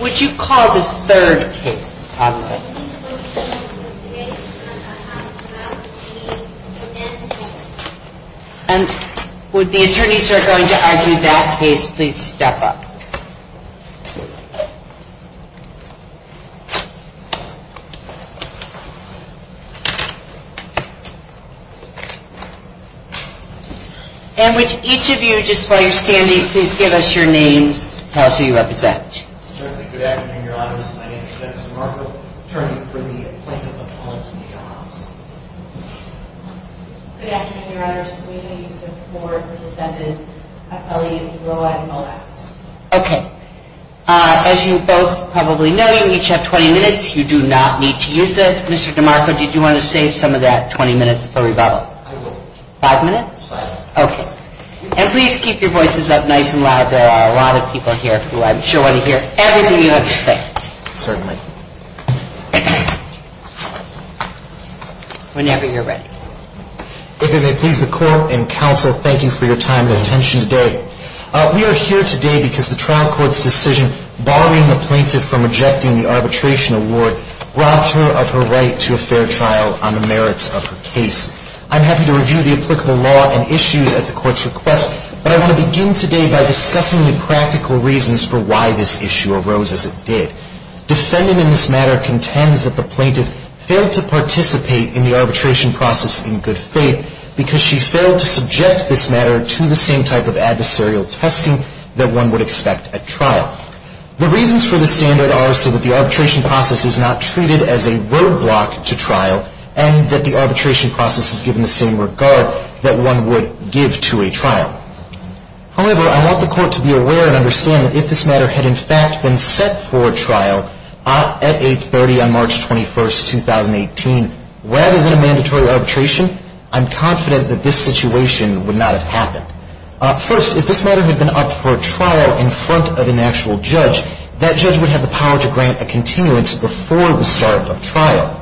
Would you call this third case positive? And would the attorneys who are going to argue that case please step up? And would each of you, just while you're standing, please give us your names, tell us who you represent. Certainly. Good afternoon, your honors. My name is Dennis DeMarco, attorney for the plaintiff of Mullins v. John Hobbs. Good afternoon, your honors. We are here to support the defendant, Ellie Mowatt Mowatts. Okay. As you both probably know, you each have 20 minutes. You do not need to use it. Mr. DeMarco, did you want to save some of that 20 minutes for rebuttal? I will. Five minutes? Five minutes. Okay. And please keep your voices up nice and loud. There are a lot of people here who I'm sure want to hear everything you have to say. Certainly. Whenever you're ready. If it may please the court and counsel, thank you for your time and attention today. We are here today because the trial court's decision barring the plaintiff from rejecting the arbitration award robbed her of her right to a fair trial on the merits of her case. I'm happy to review the applicable law and issues at the court's request, but I want to begin today by discussing the practical reasons for why this issue arose as it did. Defending in this matter contends that the plaintiff failed to participate in the arbitration process in good faith because she failed to subject this matter to the same type of adversarial testing that one would expect at trial. The reasons for this standard are so that the arbitration process is not treated as a roadblock to trial and that the arbitration process is given the same regard that one would give to a trial. However, I want the court to be aware and understand that if this matter had in fact been set for a trial at 830 on March 21, 2018, rather than a mandatory arbitration, I'm confident that this situation would not have happened. First, if this matter had been up for a trial in front of an actual judge, that judge would have the power to grant a continuance before the start of trial.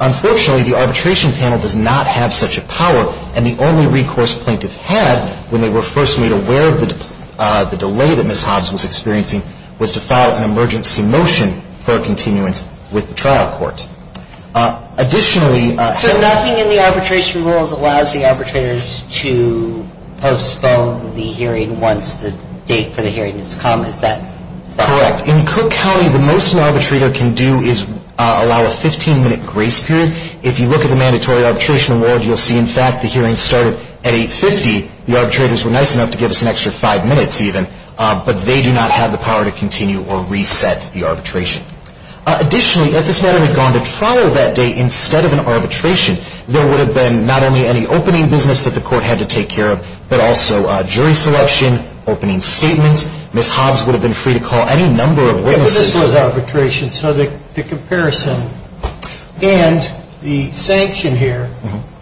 Unfortunately, the arbitration panel does not have such a power, and the only recourse plaintiff had when they were first made aware of the delay that Ms. Hobbs was experiencing was to file an emergency motion for a continuance with the trial court. Additionally... So nothing in the arbitration rules allows the arbitrators to postpone the hearing once the date for the hearing has come? Is that correct? Correct. In Cook County, the most an arbitrator can do is allow a 15-minute grace period. If you look at the mandatory arbitration award, you'll see in fact the hearing started at 850. The arbitrators were nice enough to give us an extra five minutes even, but they do not have the power to continue or reset the arbitration. Additionally, if this matter had gone to trial that day instead of an arbitration, there would have been not only any opening business that the court had to take care of, but also jury selection, opening statements. Ms. Hobbs would have been free to call any number of witnesses. But this was arbitration, so the comparison and the sanction here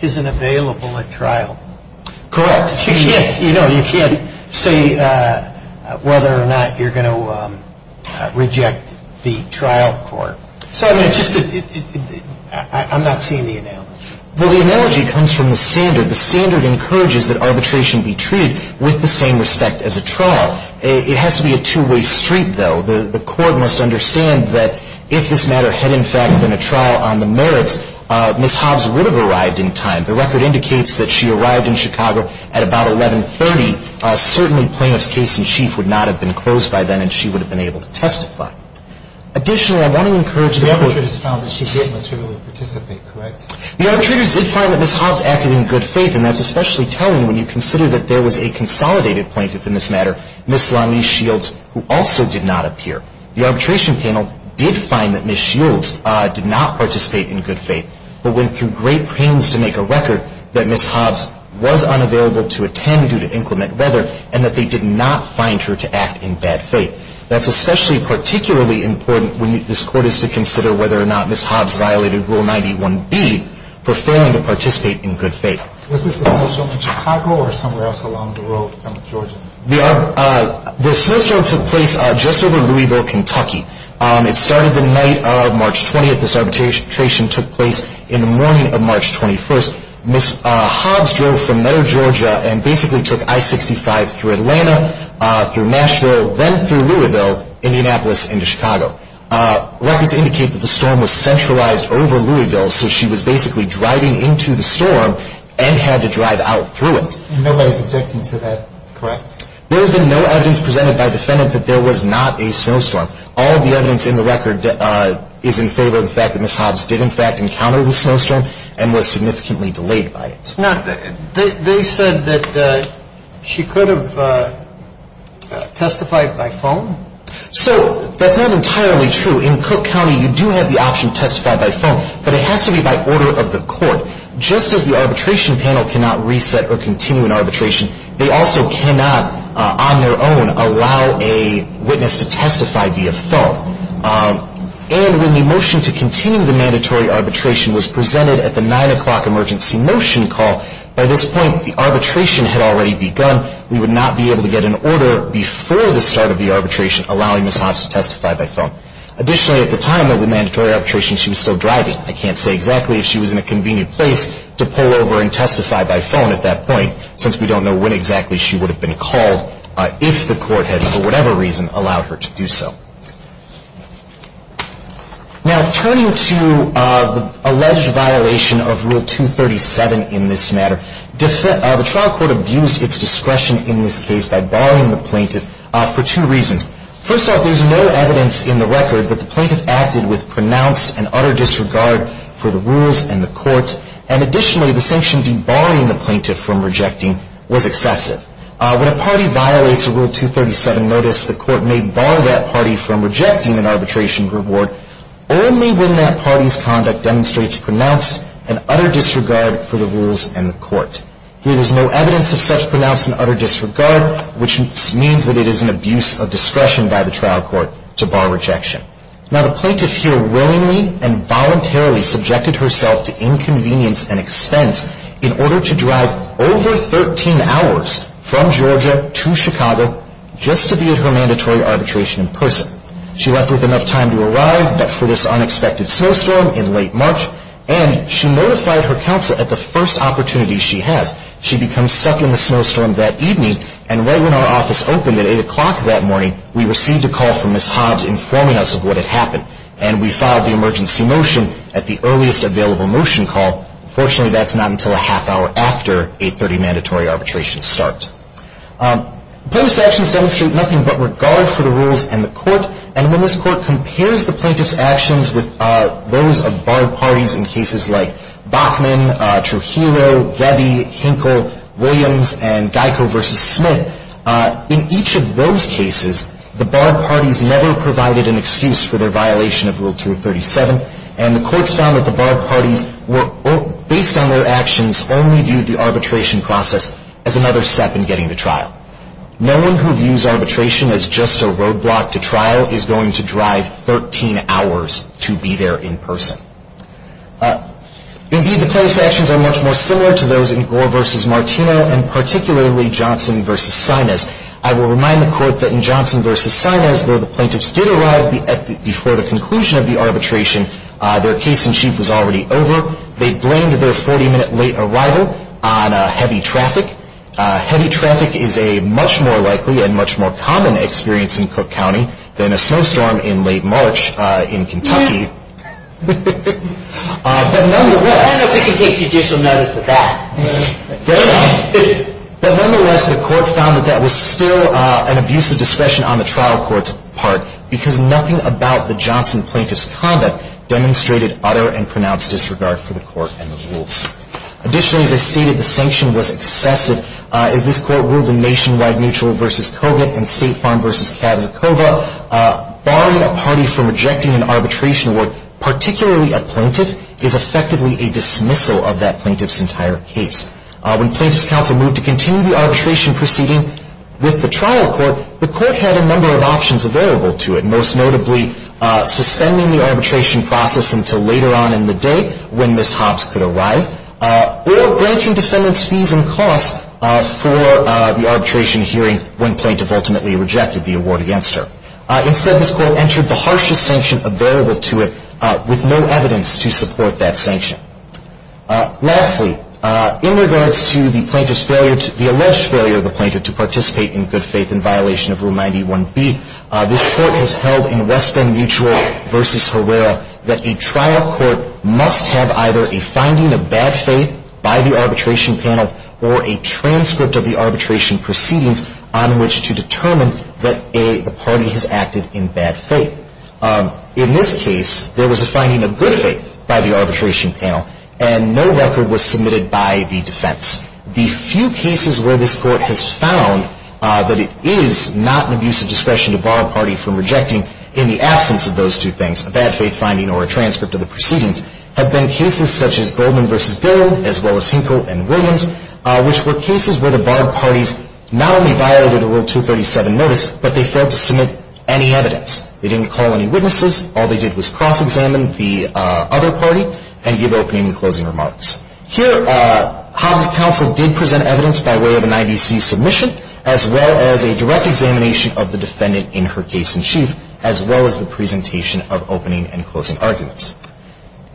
isn't available at trial. Correct. You can't say whether or not you're going to reject the trial court. I'm not seeing the analogy. Well, the analogy comes from the standard. The standard encourages that arbitration be treated with the same respect as a trial. It has to be a two-way street, though. The court must understand that if this matter had in fact been a trial on the merits, Ms. Hobbs would have arrived in time. The record indicates that she arrived in Chicago at about 1130. Certainly, plaintiff's case in chief would not have been closed by then, and she would have been able to testify. Additionally, I want to encourage the court to – The arbitrators found that she did materially participate, correct? The arbitrators did find that Ms. Hobbs acted in good faith, and that's especially telling when you consider that there was a consolidated plaintiff in this matter, Ms. Lonley Shields, who also did not appear. The arbitration panel did find that Ms. Shields did not participate in good faith, but went through great pains to make a record that Ms. Hobbs was unavailable to attend due to inclement weather, and that they did not find her to act in bad faith. That's especially particularly important when this Court is to consider whether or not Ms. Hobbs violated Rule 91B for failing to participate in good faith. Was this a snowstorm in Chicago or somewhere else along the road from Georgia? The snowstorm took place just over Louisville, Kentucky. It started the night of March 20th. This arbitration took place in the morning of March 21st. Ms. Hobbs drove from Meadow, Georgia and basically took I-65 through Atlanta, through Nashville, then through Louisville, Indianapolis, into Chicago. Records indicate that the storm was centralized over Louisville, so she was basically driving into the storm and had to drive out through it. Nobody's objecting to that, correct? There has been no evidence presented by defendant that there was not a snowstorm. All the evidence in the record is in favor of the fact that Ms. Hobbs did in fact encounter the snowstorm and was significantly delayed by it. Now, they said that she could have testified by phone? So, that's not entirely true. In Cook County, you do have the option to testify by phone, but it has to be by order of the Court. Just as the arbitration panel cannot reset or continue an arbitration, they also cannot, on their own, allow a witness to testify via phone. And when the motion to continue the mandatory arbitration was presented at the 9 o'clock emergency motion call, by this point, the arbitration had already begun. We would not be able to get an order before the start of the arbitration allowing Ms. Hobbs to testify by phone. Additionally, at the time of the mandatory arbitration, she was still driving. I can't say exactly if she was in a convenient place to pull over and testify by phone at that point, since we don't know when exactly she would have been called if the Court had, for whatever reason, allowed her to do so. Now, turning to the alleged violation of Rule 237 in this matter, the trial court abused its discretion in this case by barring the plaintiff for two reasons. First off, there's no evidence in the record that the plaintiff acted with pronounced and utter disregard for the rules and the Court. And additionally, the sanction debarring the plaintiff from rejecting was excessive. When a party violates a Rule 237 notice, the Court may bar that party from rejecting an arbitration reward only when that party's conduct demonstrates pronounced and utter disregard for the rules and the Court. Here, there's no evidence of such pronounced and utter disregard, which means that it is an abuse of discretion by the trial court to bar rejection. Now, the plaintiff here willingly and voluntarily subjected herself to inconvenience and expense in order to drive over 13 hours from Georgia to Chicago just to be at her mandatory arbitration in person. She left with enough time to arrive, but for this unexpected snowstorm in late March, and she notified her counsel at the first opportunity she has. She becomes stuck in the snowstorm that evening, and right when our office opened at 8 o'clock that morning, we received a call from Ms. Hobbs informing us of what had happened. And we filed the emergency motion at the earliest available motion call. Fortunately, that's not until a half hour after 8.30 mandatory arbitration starts. Plaintiff's actions demonstrate nothing but regard for the rules and the Court. And when this Court compares the plaintiff's actions with those of barred parties in cases like Bachman, Trujillo, Gebbie, Hinkle, Williams, and Geico v. Smith, in each of those cases, the barred parties never provided an excuse for their violation of Rule 237, and the Courts found that the barred parties were, based on their actions, only viewed the arbitration process as another step in getting to trial. No one who views arbitration as just a roadblock to trial is going to drive 13 hours to be there in person. Indeed, the plaintiff's actions are much more similar to those in Gore v. Martino, and particularly Johnson v. Sinas. I will remind the Court that in Johnson v. Sinas, though the plaintiffs did arrive before the conclusion of the arbitration, their case-in-chief was already over. They blamed their 40-minute late arrival on heavy traffic. Heavy traffic is a much more likely and much more common experience in Cook County than a snowstorm in late March in Kentucky. But nonetheless... I don't know if we can take judicial notice of that. But nonetheless, the Court found that that was still an abuse of discretion on the trial court's part, because nothing about the Johnson plaintiff's conduct demonstrated utter and pronounced disregard for the Court and the rules. Additionally, as I stated, the sanction was excessive. As this Court ruled in Nationwide Mutual v. Cogut and State Farm v. Kazakova, barring a party from rejecting an arbitration award, particularly a plaintiff, is effectively a dismissal of that plaintiff's entire case. When plaintiff's counsel moved to continue the arbitration proceeding with the trial court, the Court had a number of options available to it, most notably suspending the arbitration process until later on in the day when Ms. Hobbs could arrive, or granting defendants fees and costs for the arbitration hearing when plaintiff ultimately rejected the award against her. Instead, this Court entered the harshest sanction available to it, with no evidence to support that sanction. Lastly, in regards to the alleged failure of the plaintiff to participate in good faith in violation of Rule 91B, this Court has held in West End Mutual v. Herrera that a trial court must have either a finding of bad faith by the arbitration panel or a transcript of the arbitration proceedings on which to determine that a party has acted in bad faith. In this case, there was a finding of good faith by the arbitration panel, and no record was submitted by the defense. The few cases where this Court has found that it is not an abuse of discretion to bar a party from rejecting, in the absence of those two things, a bad faith finding or a transcript of the proceedings, have been cases such as Goldman v. Dillon, as well as Hinkle v. Williams, which were cases where the barred parties not only violated a Rule 237 notice, but they failed to submit any evidence. They didn't call any witnesses. All they did was cross-examine the other party and give opening and closing remarks. Here, Hobbs' counsel did present evidence by way of an IDC submission, as well as a direct examination of the defendant in her case in chief, as well as the presentation of opening and closing arguments.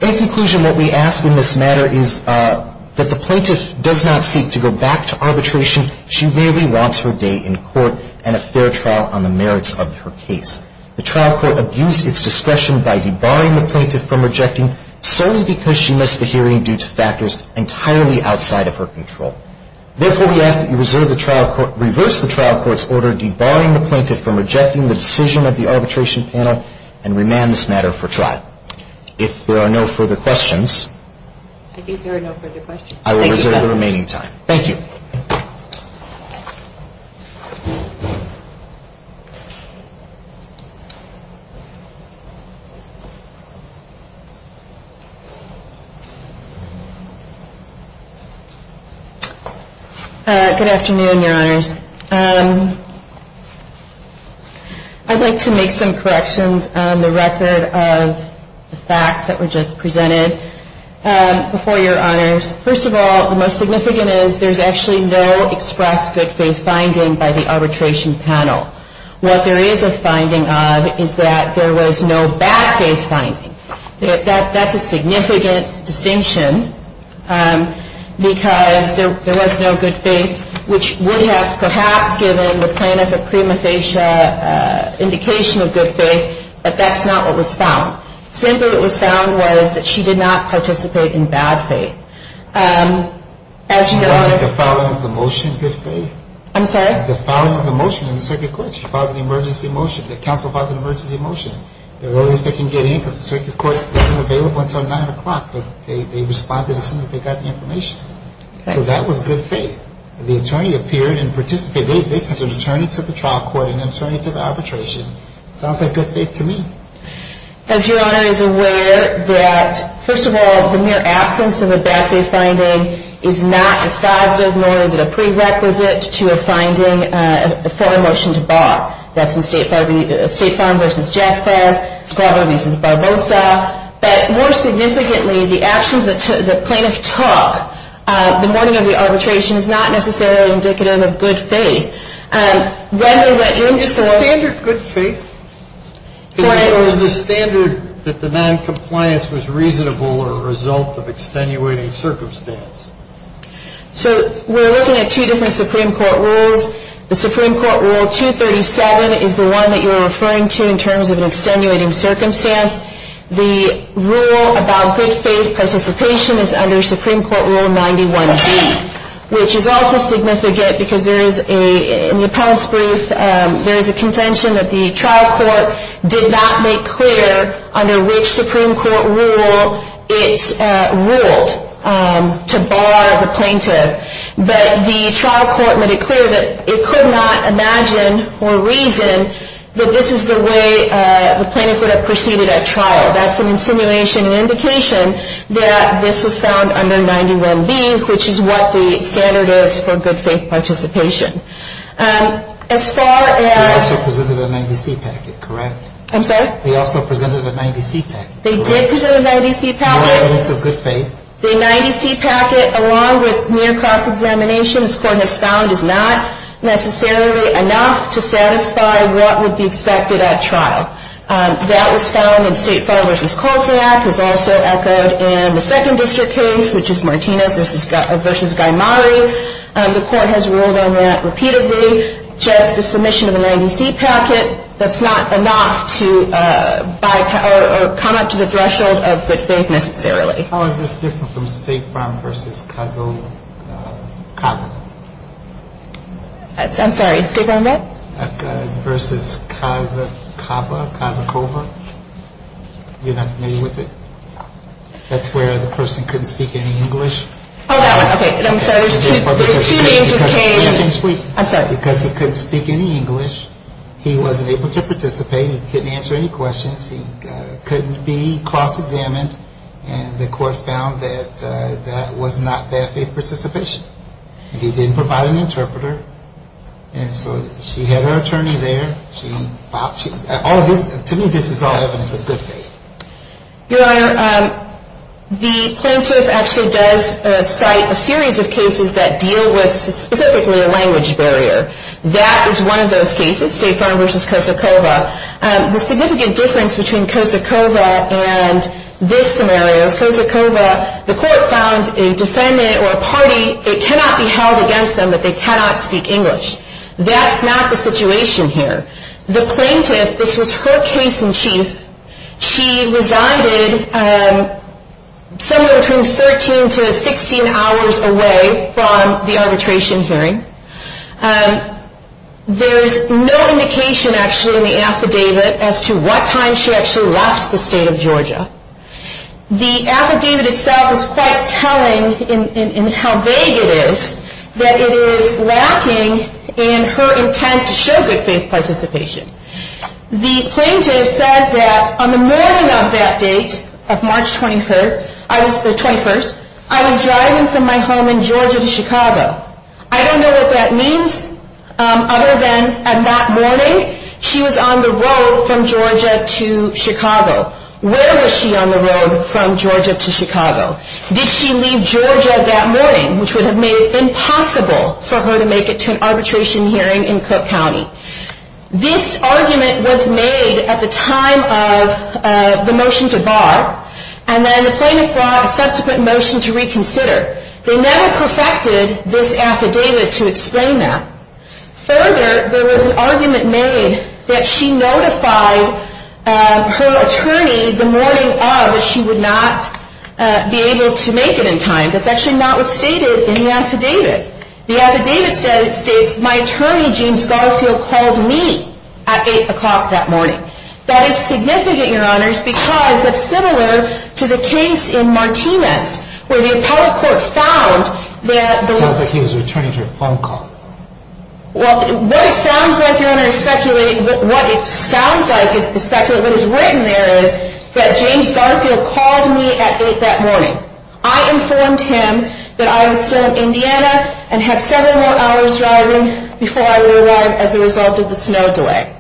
In conclusion, what we ask in this matter is that the plaintiff does not seek to go back to arbitration. She merely wants her day in court and a fair trial on the merits of her case. The trial court abused its discretion by debarring the plaintiff from rejecting, solely because she missed the hearing due to factors entirely outside of her control. Therefore, we ask that you reverse the trial court's order debarring the plaintiff from rejecting the decision of the arbitration panel and remand this matter for trial. If there are no further questions, I will reserve the remaining time. Thank you. Good afternoon, Your Honors. I'd like to make some corrections on the record of the facts that were just presented. Before Your Honors, first of all, the most significant is there's actually no express good faith finding by the arbitration panel. What there is a finding of is that there was no bad faith finding. That's a significant distinction, because there was no good faith, which would have perhaps given the plaintiff a prima facie indication of good faith, but that's not what was found. Simply what was found was that she did not participate in bad faith. As you know, if the following of the motion, good faith. I'm sorry? The following of the motion in the circuit court, she filed an emergency motion. The counsel filed an emergency motion. The earliest they can get in, because the circuit court isn't available until 9 o'clock, but they responded as soon as they got the information. So that was good faith. The attorney appeared and participated. They sent an attorney to the trial court, an attorney to the arbitration. Sounds like good faith to me. As Your Honor is aware, that first of all, the mere absence of a bad faith finding is not dispositive, nor is it a prerequisite to a finding for a motion to bar. That's the State Farm v. Jazz Pass, Barber v. Barbosa. But more significantly, the actions that the plaintiff took the morning of the arbitration is not necessarily indicative of good faith. Is the standard good faith? Or is the standard that the noncompliance was reasonable or a result of extenuating circumstance? So we're looking at two different Supreme Court rules. The Supreme Court Rule 237 is the one that you're referring to in terms of an extenuating circumstance. The rule about good faith participation is under Supreme Court Rule 91B, which is also significant because there is a, in the appellate's brief, there is a contention that the trial court did not make clear under which Supreme Court rule it ruled to bar the plaintiff. But the trial court made it clear that it could not imagine or reason that this is the way the plaintiff would have proceeded at trial. That's an insinuation, an indication that this was found under 91B, which is what the standard is for good faith participation. As far as- They also presented a 90C packet, correct? I'm sorry? They also presented a 90C packet, correct? They did present a 90C packet. No evidence of good faith. The 90C packet, along with near cross-examination, this Court has found is not necessarily enough to satisfy what would be expected at trial. That was found in State Farm v. Kolsak. It was also echoed in the second district case, which is Martinez v. Gaimari. The Court has ruled on that repeatedly. Just the submission of a 90C packet, that's not enough to come up to the threshold of good faith necessarily. How is this different from State Farm v. Kazakawa? I'm sorry, State Farm what? V. Kazakawa, Kazakova. You're not familiar with it? That's where the person couldn't speak any English? Oh, that one. Because he couldn't speak any English, he wasn't able to participate, he couldn't answer any questions, he couldn't be cross-examined, and the Court found that that was not bad faith participation. He didn't provide an interpreter, and so she had her attorney there. To me, this is all evidence of good faith. Your Honor, the plaintiff actually does cite a series of cases that deal with specifically a language barrier. That is one of those cases, State Farm v. Kazakawa. The significant difference between Kazakawa and this scenario is Kazakawa, the Court found a defendant or a party, it cannot be held against them that they cannot speak English. That's not the situation here. The plaintiff, this was her case in chief, she resided somewhere between 13 to 16 hours away from the arbitration hearing. There's no indication actually in the affidavit as to what time she actually left the state of Georgia. The affidavit itself is quite telling in how vague it is that it is lacking in her intent to show good faith participation. The plaintiff says that on the morning of that date, March 21st, I was driving from my home in Georgia to Chicago. I don't know what that means other than on that morning, she was on the road from Georgia to Chicago. Where was she on the road from Georgia to Chicago? Did she leave Georgia that morning, which would have made it impossible for her to make it to an arbitration hearing in Cook County? This argument was made at the time of the motion to bar, and then the plaintiff brought a subsequent motion to reconsider. They never perfected this affidavit to explain that. Further, there was an argument made that she notified her attorney the morning of that she would not be able to make it in time. That's actually not what's stated in the affidavit. The affidavit states, my attorney, James Garfield, called me at 8 o'clock that morning. That is significant, Your Honors, because it's similar to the case in Martinez, where the appellate court found that... It sounds like he was returning to a phone call. Well, what it sounds like, Your Honor, is speculating... ...that James Garfield called me at 8 that morning. I informed him that I was still in Indiana and had several more hours driving before I would arrive as a result of the snow delay.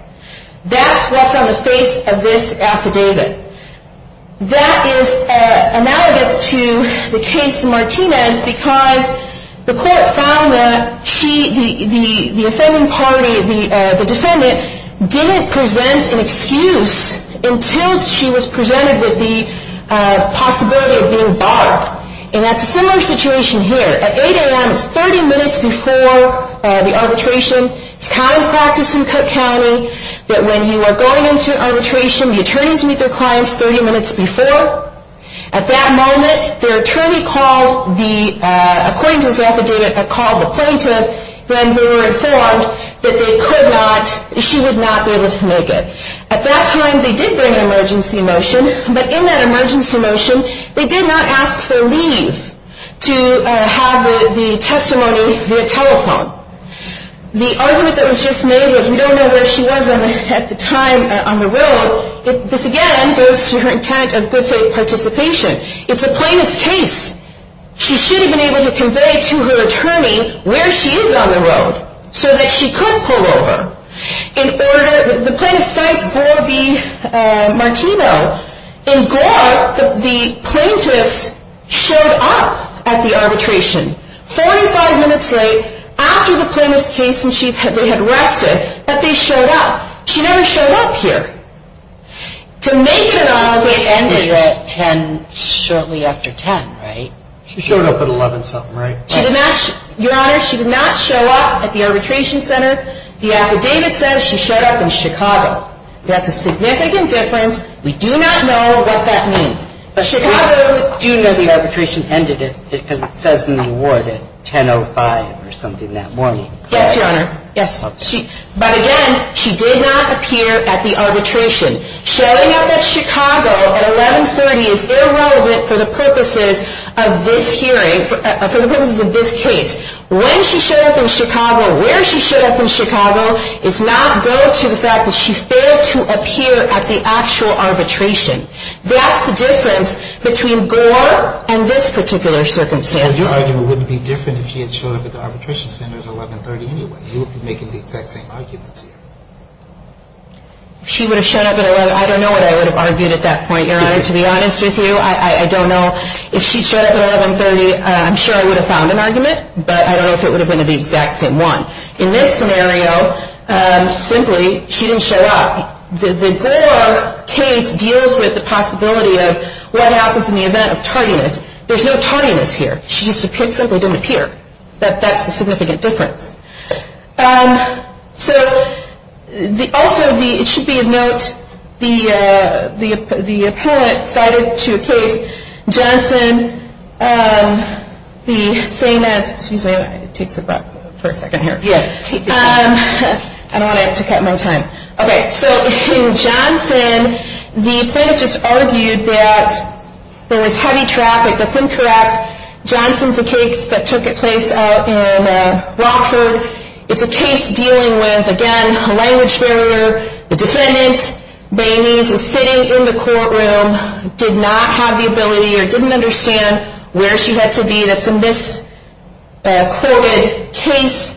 That's what's on the face of this affidavit. That is analogous to the case in Martinez, because the court found that the offending party, the defendant, didn't present an excuse until she was presented with the possibility of being barred. And that's a similar situation here. At 8 a.m., it's 30 minutes before the arbitration. It's common practice in Cook County that when you are going into arbitration, the attorneys meet their clients 30 minutes before. At that moment, their attorney called the plaintiff when they were informed that she would not be able to make it. At that time, they did bring an emergency motion, but in that emergency motion, they did not ask for leave to have the testimony via telephone. The argument that was just made was, we don't know where she was at the time on the road. This, again, goes to her intent of good faith participation. It's a plaintiff's case. She should have been able to convey to her attorney where she is on the road so that she could pull over. The plaintiff cites Gore v. Martino. In Gore, the plaintiffs showed up at the arbitration 45 minutes late, after the plaintiff's case and they had rested, but they showed up. She never showed up here. To make it at all, it ended at 10 shortly after 10, right? She showed up at 11-something, right? Your Honor, she did not show up at the arbitration center. The affidavit says she showed up in Chicago. That's a significant difference. We do not know what that means. But Chicago, we do know the arbitration ended, because it says in the award at 10.05 or something that morning. Yes, Your Honor, yes. But again, she did not appear at the arbitration. Showing up at Chicago at 11-30 is irrelevant for the purposes of this hearing, for the purposes of this case. When she showed up in Chicago, where she showed up in Chicago, does not go to the fact that she failed to appear at the actual arbitration. That's the difference between Gore and this particular circumstance. Your argument wouldn't be different if she had showed up at the arbitration center at 11-30 anyway. You would be making the exact same arguments here. She would have shown up at 11- I don't know what I would have argued at that point, Your Honor, to be honest with you. I don't know. If she showed up at 11-30, I'm sure I would have found an argument, but I don't know if it would have been the exact same one. In this scenario, simply, she didn't show up. The Gore case deals with the possibility of what happens in the event of tardiness. There's no tardiness here. She just simply didn't appear. That's the significant difference. Also, it should be of note, the appellant cited to a case, Johnson, the same as- excuse me, it takes a breath for a second here. I don't want to take up more time. In Johnson, the plaintiff just argued that there was heavy traffic. That's incorrect. Johnson's a case that took place out in Rockford. It's a case dealing with, again, a language barrier. The defendant, Bainese, was sitting in the courtroom, did not have the ability or didn't understand where she had to be. That's a misquoted case.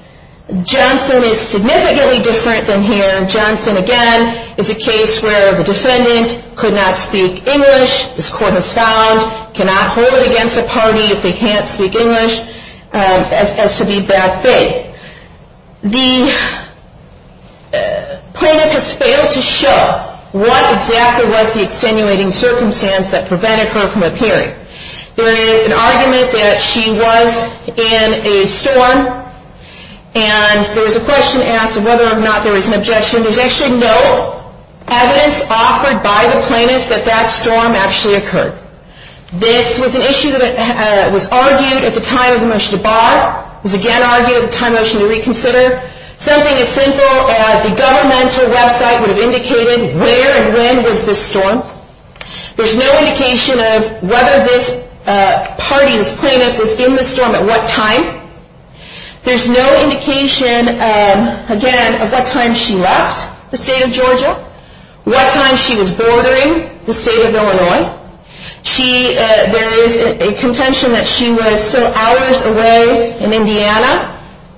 Johnson is significantly different than here. Johnson, again, is a case where the defendant could not speak English. This court has found cannot hold it against the party if they can't speak English as to be bad faith. The plaintiff has failed to show what exactly was the extenuating circumstance that prevented her from appearing. There is an argument that she was in a storm, and there was a question asked of whether or not there was an objection. There's actually no evidence offered by the plaintiff that that storm actually occurred. This was an issue that was argued at the time of the motion to bar, was again argued at the time of the motion to reconsider. Something as simple as a governmental website would have indicated where and when was this storm. There's no indication of whether this party, this plaintiff, was in the storm at what time. There's no indication, again, of what time she left the state of Georgia, what time she was bordering the state of Illinois. There is a contention that she was still hours away in Indiana.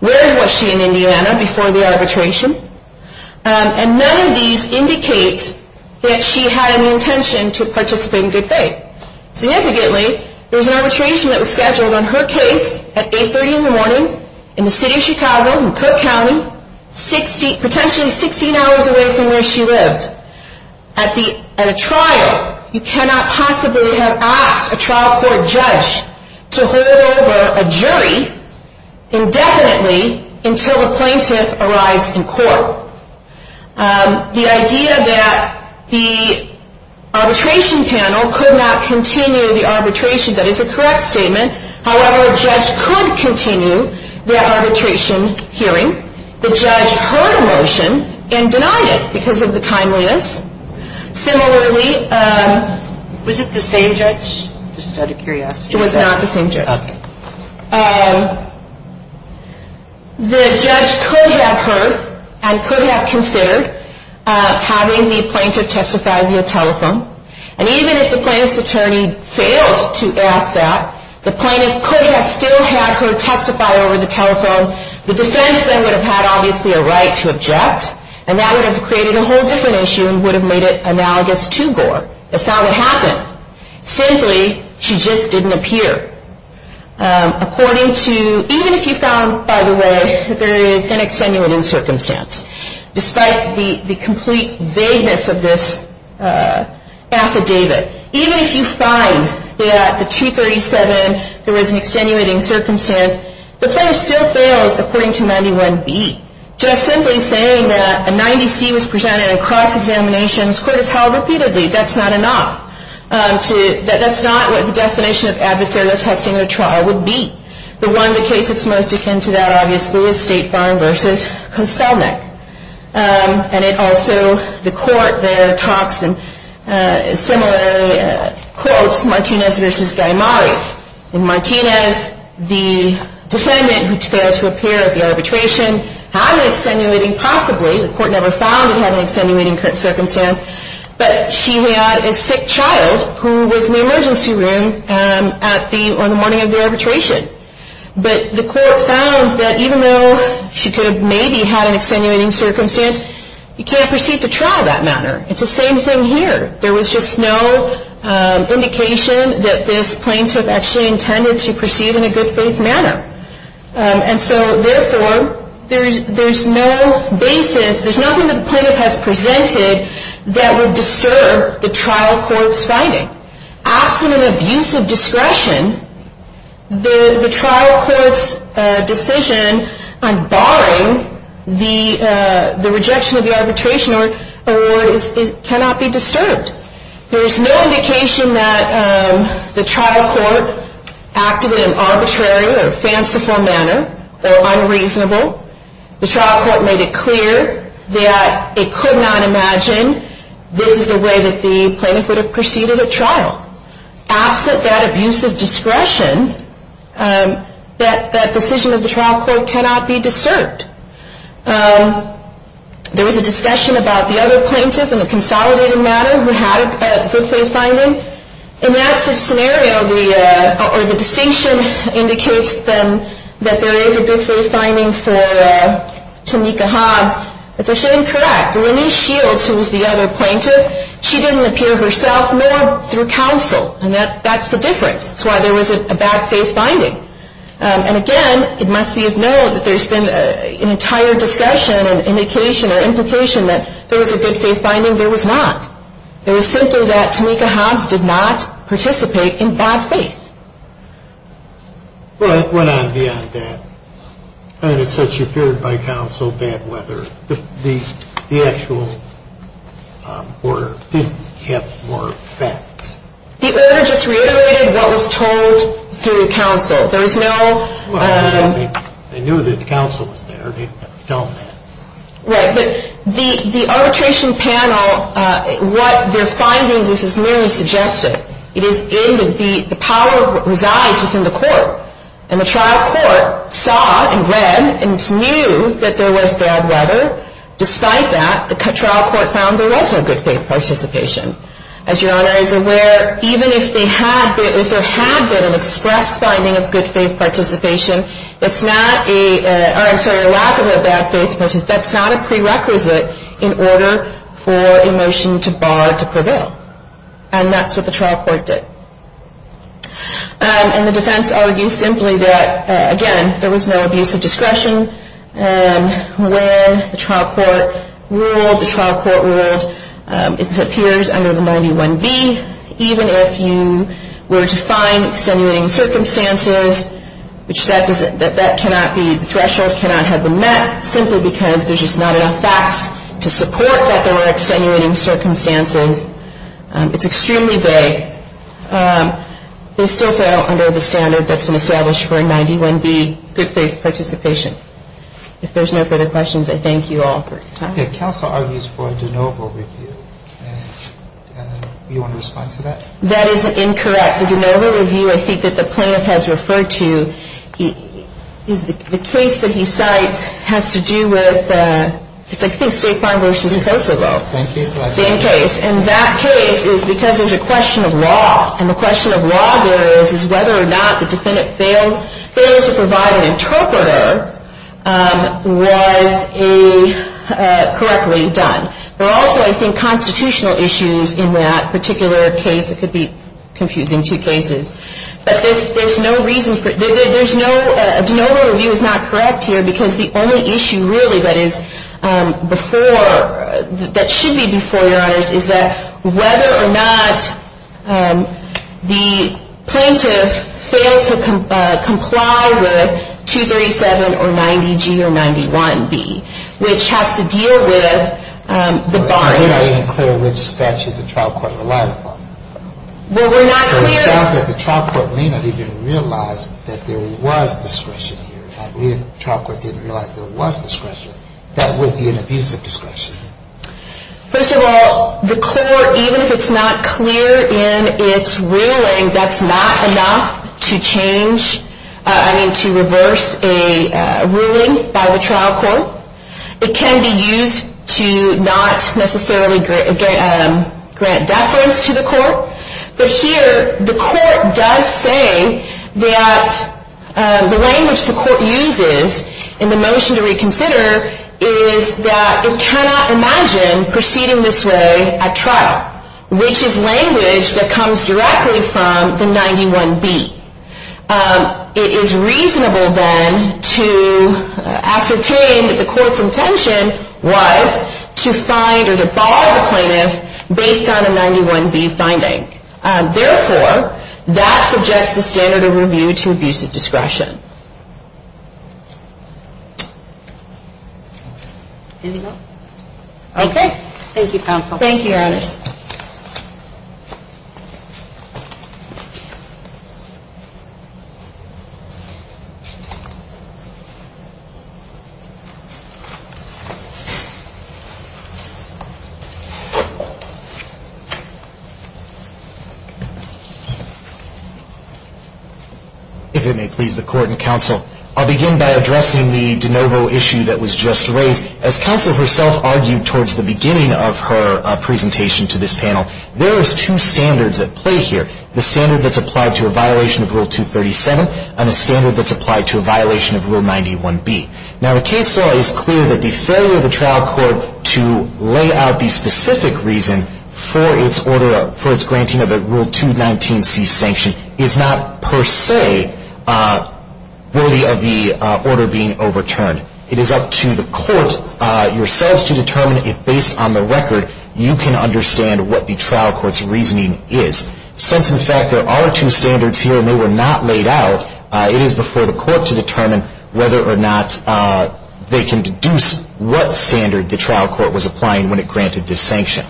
Where was she in Indiana before the arbitration? And none of these indicate that she had an intention to participate in good faith. Significantly, there was an arbitration that was scheduled on her case at 830 in the morning in the city of Chicago in Cook County, potentially 16 hours away from where she lived. At a trial, you cannot possibly have asked a trial court judge to hold over a jury indefinitely The idea that the arbitration panel could not continue the arbitration, that is a correct statement. However, a judge could continue the arbitration hearing. The judge heard a motion and denied it because of the timeliness. Similarly, was it the same judge? Just out of curiosity. It was not the same judge. Okay. The judge could have heard and could have considered having the plaintiff testify over the telephone. And even if the plaintiff's attorney failed to ask that, the plaintiff could have still had her testify over the telephone. The defense then would have had, obviously, a right to object. And that would have created a whole different issue and would have made it analogous to Gore. That's not what happened. Simply, she just didn't appear. Even if you found, by the way, that there is an extenuating circumstance, despite the complete vagueness of this affidavit, even if you find that at the 237 there was an extenuating circumstance, the plaintiff still fails according to 91B. Just simply saying that a 90C was presented in a cross-examination, this court has held repeatedly, that's not enough. That's not what the definition of adversarial testing or trial would be. The one in the case that's most akin to that, obviously, is State Farm v. Koselnik. And it also, the court there talks and similarly quotes Martinez v. Gaimari. In Martinez, the defendant, who failed to appear at the arbitration, had an extenuating, possibly, the court never found it had an extenuating circumstance, but she had a sick child who was in the emergency room on the morning of the arbitration. But the court found that even though she could have maybe had an extenuating circumstance, you can't proceed to trial that manner. It's the same thing here. There was just no indication that this plaintiff actually intended to proceed in a good faith manner. And so, therefore, there's no basis, the court has presented, that would disturb the trial court's finding. Absent an abuse of discretion, the trial court's decision on barring the rejection of the arbitration award cannot be disturbed. There's no indication that the trial court acted in an arbitrary or fanciful manner or unreasonable. The trial court made it clear that it could not imagine this is the way that the plaintiff would have proceeded at trial. Absent that abuse of discretion, that decision of the trial court cannot be disturbed. There was a discussion about the other plaintiff in a consolidated manner who had a good faith finding. In that scenario, the distinction indicates then that there is a good faith finding for Tameka Hobbs. It's actually incorrect. Lenise Shields, who was the other plaintiff, she didn't appear herself, nor through counsel. And that's the difference. It's why there was a bad faith finding. And, again, it must be of note that there's been an entire discussion and indication or implication that there was a good faith finding. There was not. It was simply that Tameka Hobbs did not participate in bad faith. Well, it went on beyond that. And it's such a period by counsel, bad weather. The actual order didn't have more facts. The order just reiterated what was told through counsel. There was no... Well, they knew that counsel was there. They told them that. Right. But the arbitration panel, what their findings is, is merely suggestive. It is in the power that resides within the court. And the trial court saw and read and knew that there was bad weather. Despite that, the trial court found there was no good faith participation. As Your Honor is aware, even if there had been an express finding of good faith participation, it's not a... I'm sorry, a lack of a bad faith. That's not a prerequisite in order for a motion to bar to prevail. And that's what the trial court did. And the defense argues simply that, again, there was no abuse of discretion. When the trial court ruled, the trial court ruled it appears under the 91B. Even if you were to find extenuating circumstances, which that cannot be, the thresholds cannot have been met, simply because there's just not enough facts to support that there were extenuating circumstances. It's extremely vague. They still fail under the standard that's been established for a 91B, good faith participation. If there's no further questions, I thank you all for your time. Okay. The counsel argues for a de novo review. And you want to respond to that? That is incorrect. The de novo review I think that the plaintiff has referred to is the case that he cites has to do with... I think it's Stakeline v. Kosovo. Same case. Same case. And that case is because there's a question of law. And the question of law there is whether or not the defendant failed to provide an interpreter was correctly done. There are also, I think, constitutional issues in that particular case. It could be confusing two cases. But there's no reason for... The de novo review is not correct here because the only issue really that is before... that should be before, Your Honors, is that whether or not the plaintiff failed to comply with 237 or 90G or 91B, which has to deal with the bond. We're not clear which statute the trial court relied upon. Well, we're not clear... So it sounds like the trial court may not even realize that there was discretion here. If the trial court didn't realize there was discretion, that would be an abuse of discretion. First of all, the court, even if it's not clear in its ruling, that's not enough to change... I mean, to reverse a ruling by the trial court. It can be used to not necessarily grant deference to the court. But here, the court does say that the language the court uses in the motion to reconsider is that it cannot imagine proceeding this way at trial, which is language that comes directly from the 91B. It is reasonable, then, to ascertain that the court's intention was to find or to bar the plaintiff based on a 91B finding. Therefore, that suggests the standard of review to abuse of discretion. Anything else? Okay. Thank you, counsel. Thank you, Your Honors. If it may please the court and counsel, I'll begin by addressing the de novo issue that was just raised. As counsel herself argued towards the beginning of her presentation to this panel, there is two standards at play here, the standard that's applied to a violation of Rule 237 and a standard that's applied to a violation of Rule 91B. Now, the case law is clear that the failure of the trial court to lay out the specific reason for its granting of a Rule 219C sanction is not per se worthy of the order being overturned. It is up to the court yourselves to determine if, based on the record, you can understand what the trial court's reasoning is. Since, in fact, there are two standards here and they were not laid out, it is before the court to determine whether or not they can deduce what standard the trial court was applying when it granted this sanction.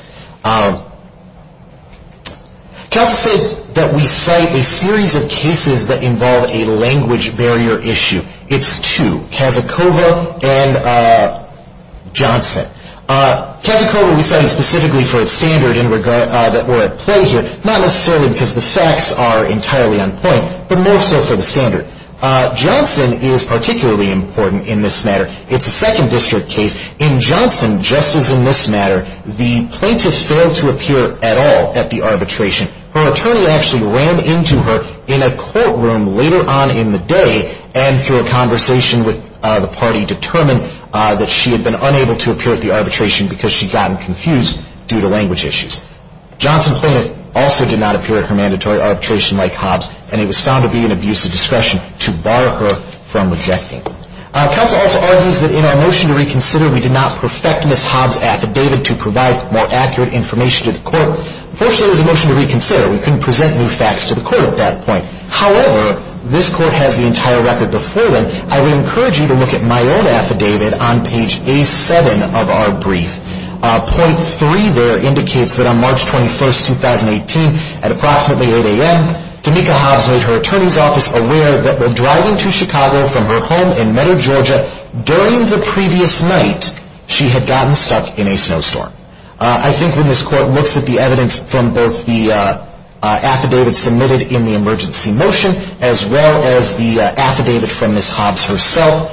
Counsel states that we cite a series of cases that involve a language barrier issue. It's two, Kazakova and Johnson. Kazakova we cited specifically for its standard that were at play here, not necessarily because the facts are entirely on point, but more so for the standard. Johnson is particularly important in this matter. It's a second district case. In Johnson, just as in this matter, the plaintiff failed to appear at all at the arbitration. Her attorney actually ran into her in a courtroom later on in the day and through a conversation with the party determined that she had been unable to appear at the arbitration because she'd gotten confused due to language issues. Johnson plaintiff also did not appear at her mandatory arbitration like Hobbs and it was found to be an abuse of discretion to bar her from rejecting. Counsel also argues that in our motion to reconsider, we did not perfect Ms. Hobbs' affidavit to provide more accurate information to the court. Unfortunately, it was a motion to reconsider. We couldn't present new facts to the court at that point. However, this court has the entire record before them. I would encourage you to look at my own affidavit on page A7 of our brief. Point 3 there indicates that on March 21, 2018, at approximately 8 a.m., Anika Hobbs made her attorney's office aware that while driving to Chicago from her home in Meadow, Georgia, during the previous night, she had gotten stuck in a snowstorm. I think when this court looks at the evidence from both the affidavit submitted in the emergency motion as well as the affidavit from Ms. Hobbs herself,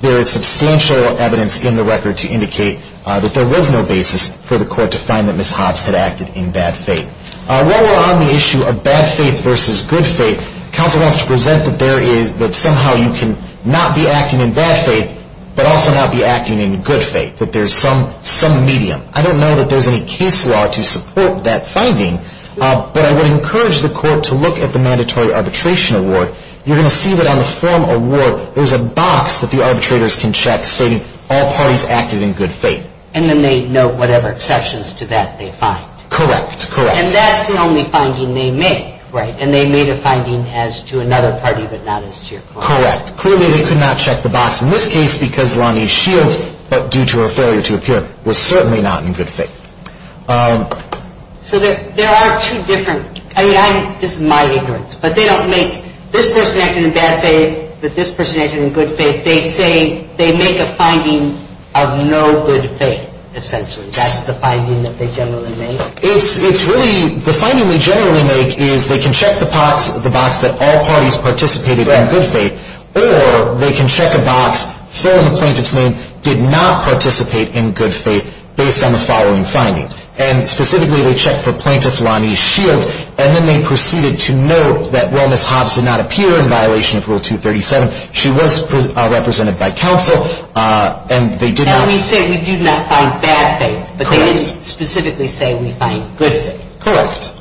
there is substantial evidence in the record to indicate that there was no basis for the court to find that Ms. Hobbs had acted in bad faith. While we're on the issue of bad faith versus good faith, counsel wants to present that somehow you can not be acting in bad faith, but also not be acting in good faith, that there's some medium. I don't know that there's any case law to support that finding, but I would encourage the court to look at the mandatory arbitration award. You're going to see that on the form award, there's a box that the arbitrators can check stating all parties acted in good faith. And then they note whatever exceptions to that they find. Correct, correct. And that's the only finding they make. Right. And they made a finding as to another party, but not as to your client. Correct. Clearly they could not check the box in this case because Lonnie Shields, due to her failure to appear, was certainly not in good faith. So there are two different, I mean, this is my ignorance, but they don't make this person acting in bad faith with this person acting in good faith. They say they make a finding of no good faith, essentially. That's the finding that they generally make? It's really the finding they generally make is they can check the box that all parties participated in good faith, or they can check a box for the plaintiff's name did not participate in good faith based on the following findings. And specifically they checked for Plaintiff Lonnie Shields, and then they proceeded to note that, well, Ms. Hobbs did not appear in violation of Rule 237. She was represented by counsel, and they did not. We say we do not find bad faith, but they didn't specifically say we find good faith. Correct.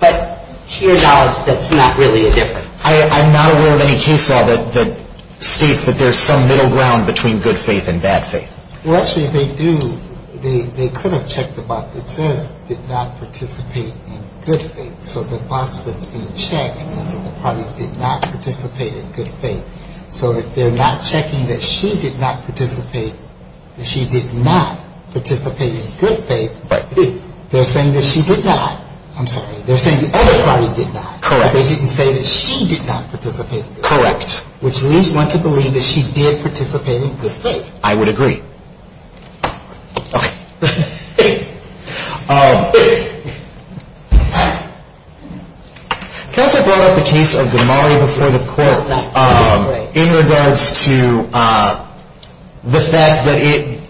But to your knowledge, that's not really a difference. I'm not aware of any case law that states that there's some middle ground between good faith and bad faith. Well, actually they do. They could have checked the box that says did not participate in good faith. So the box that's being checked means that the parties did not participate in good faith. So if they're not checking that she did not participate, that she did not participate in good faith, they're saying that she did not. I'm sorry. They're saying the other party did not. Correct. They didn't say that she did not participate in good faith. Correct. Which leaves one to believe that she did participate in good faith. I would agree. Okay. Counsel brought up the case of Gamari before the court in regards to the fact that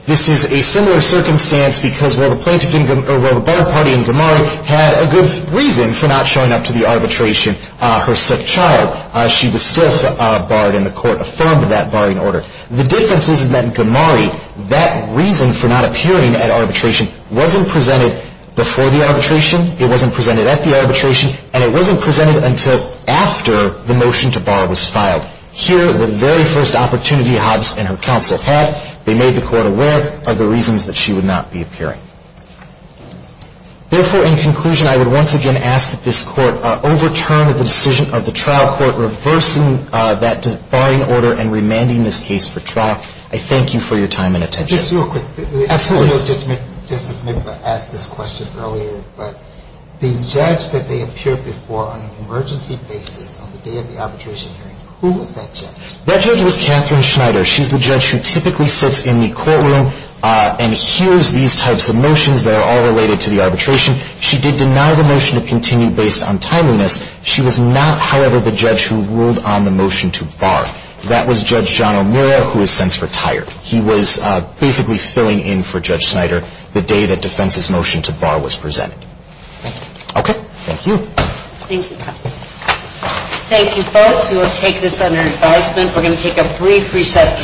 this is a similar circumstance because while the barred party in Gamari had a good reason for not showing up to the arbitration, her sick child, she was still barred, and the court affirmed that barring order. The difference is that in Gamari, that reason for not appearing at arbitration wasn't presented before the arbitration, it wasn't presented at the arbitration, and it wasn't presented until after the motion to bar was filed. Here, the very first opportunity Hobbs and her counsel had, they made the court aware of the reasons that she would not be appearing. Therefore, in conclusion, I would once again ask that this court overturn the decision of the trial court and reverse that barring order and remanding this case for trial. I thank you for your time and attention. Just real quick. Absolutely. I know Judge McIntyre asked this question earlier, but the judge that they appeared before on an emergency basis on the day of the arbitration hearing, who was that judge? That judge was Catherine Schneider. She's the judge who typically sits in the courtroom and hears these types of motions that are all related to the arbitration. She did deny the motion to continue based on timeliness. She was not, however, the judge who ruled on the motion to bar. That was Judge John O'Meara, who has since retired. He was basically filling in for Judge Schneider the day that defense's motion to bar was presented. Thank you. Okay. Thank you. Thank you. Thank you both. We will take this under advisement. We're going to take a brief recess.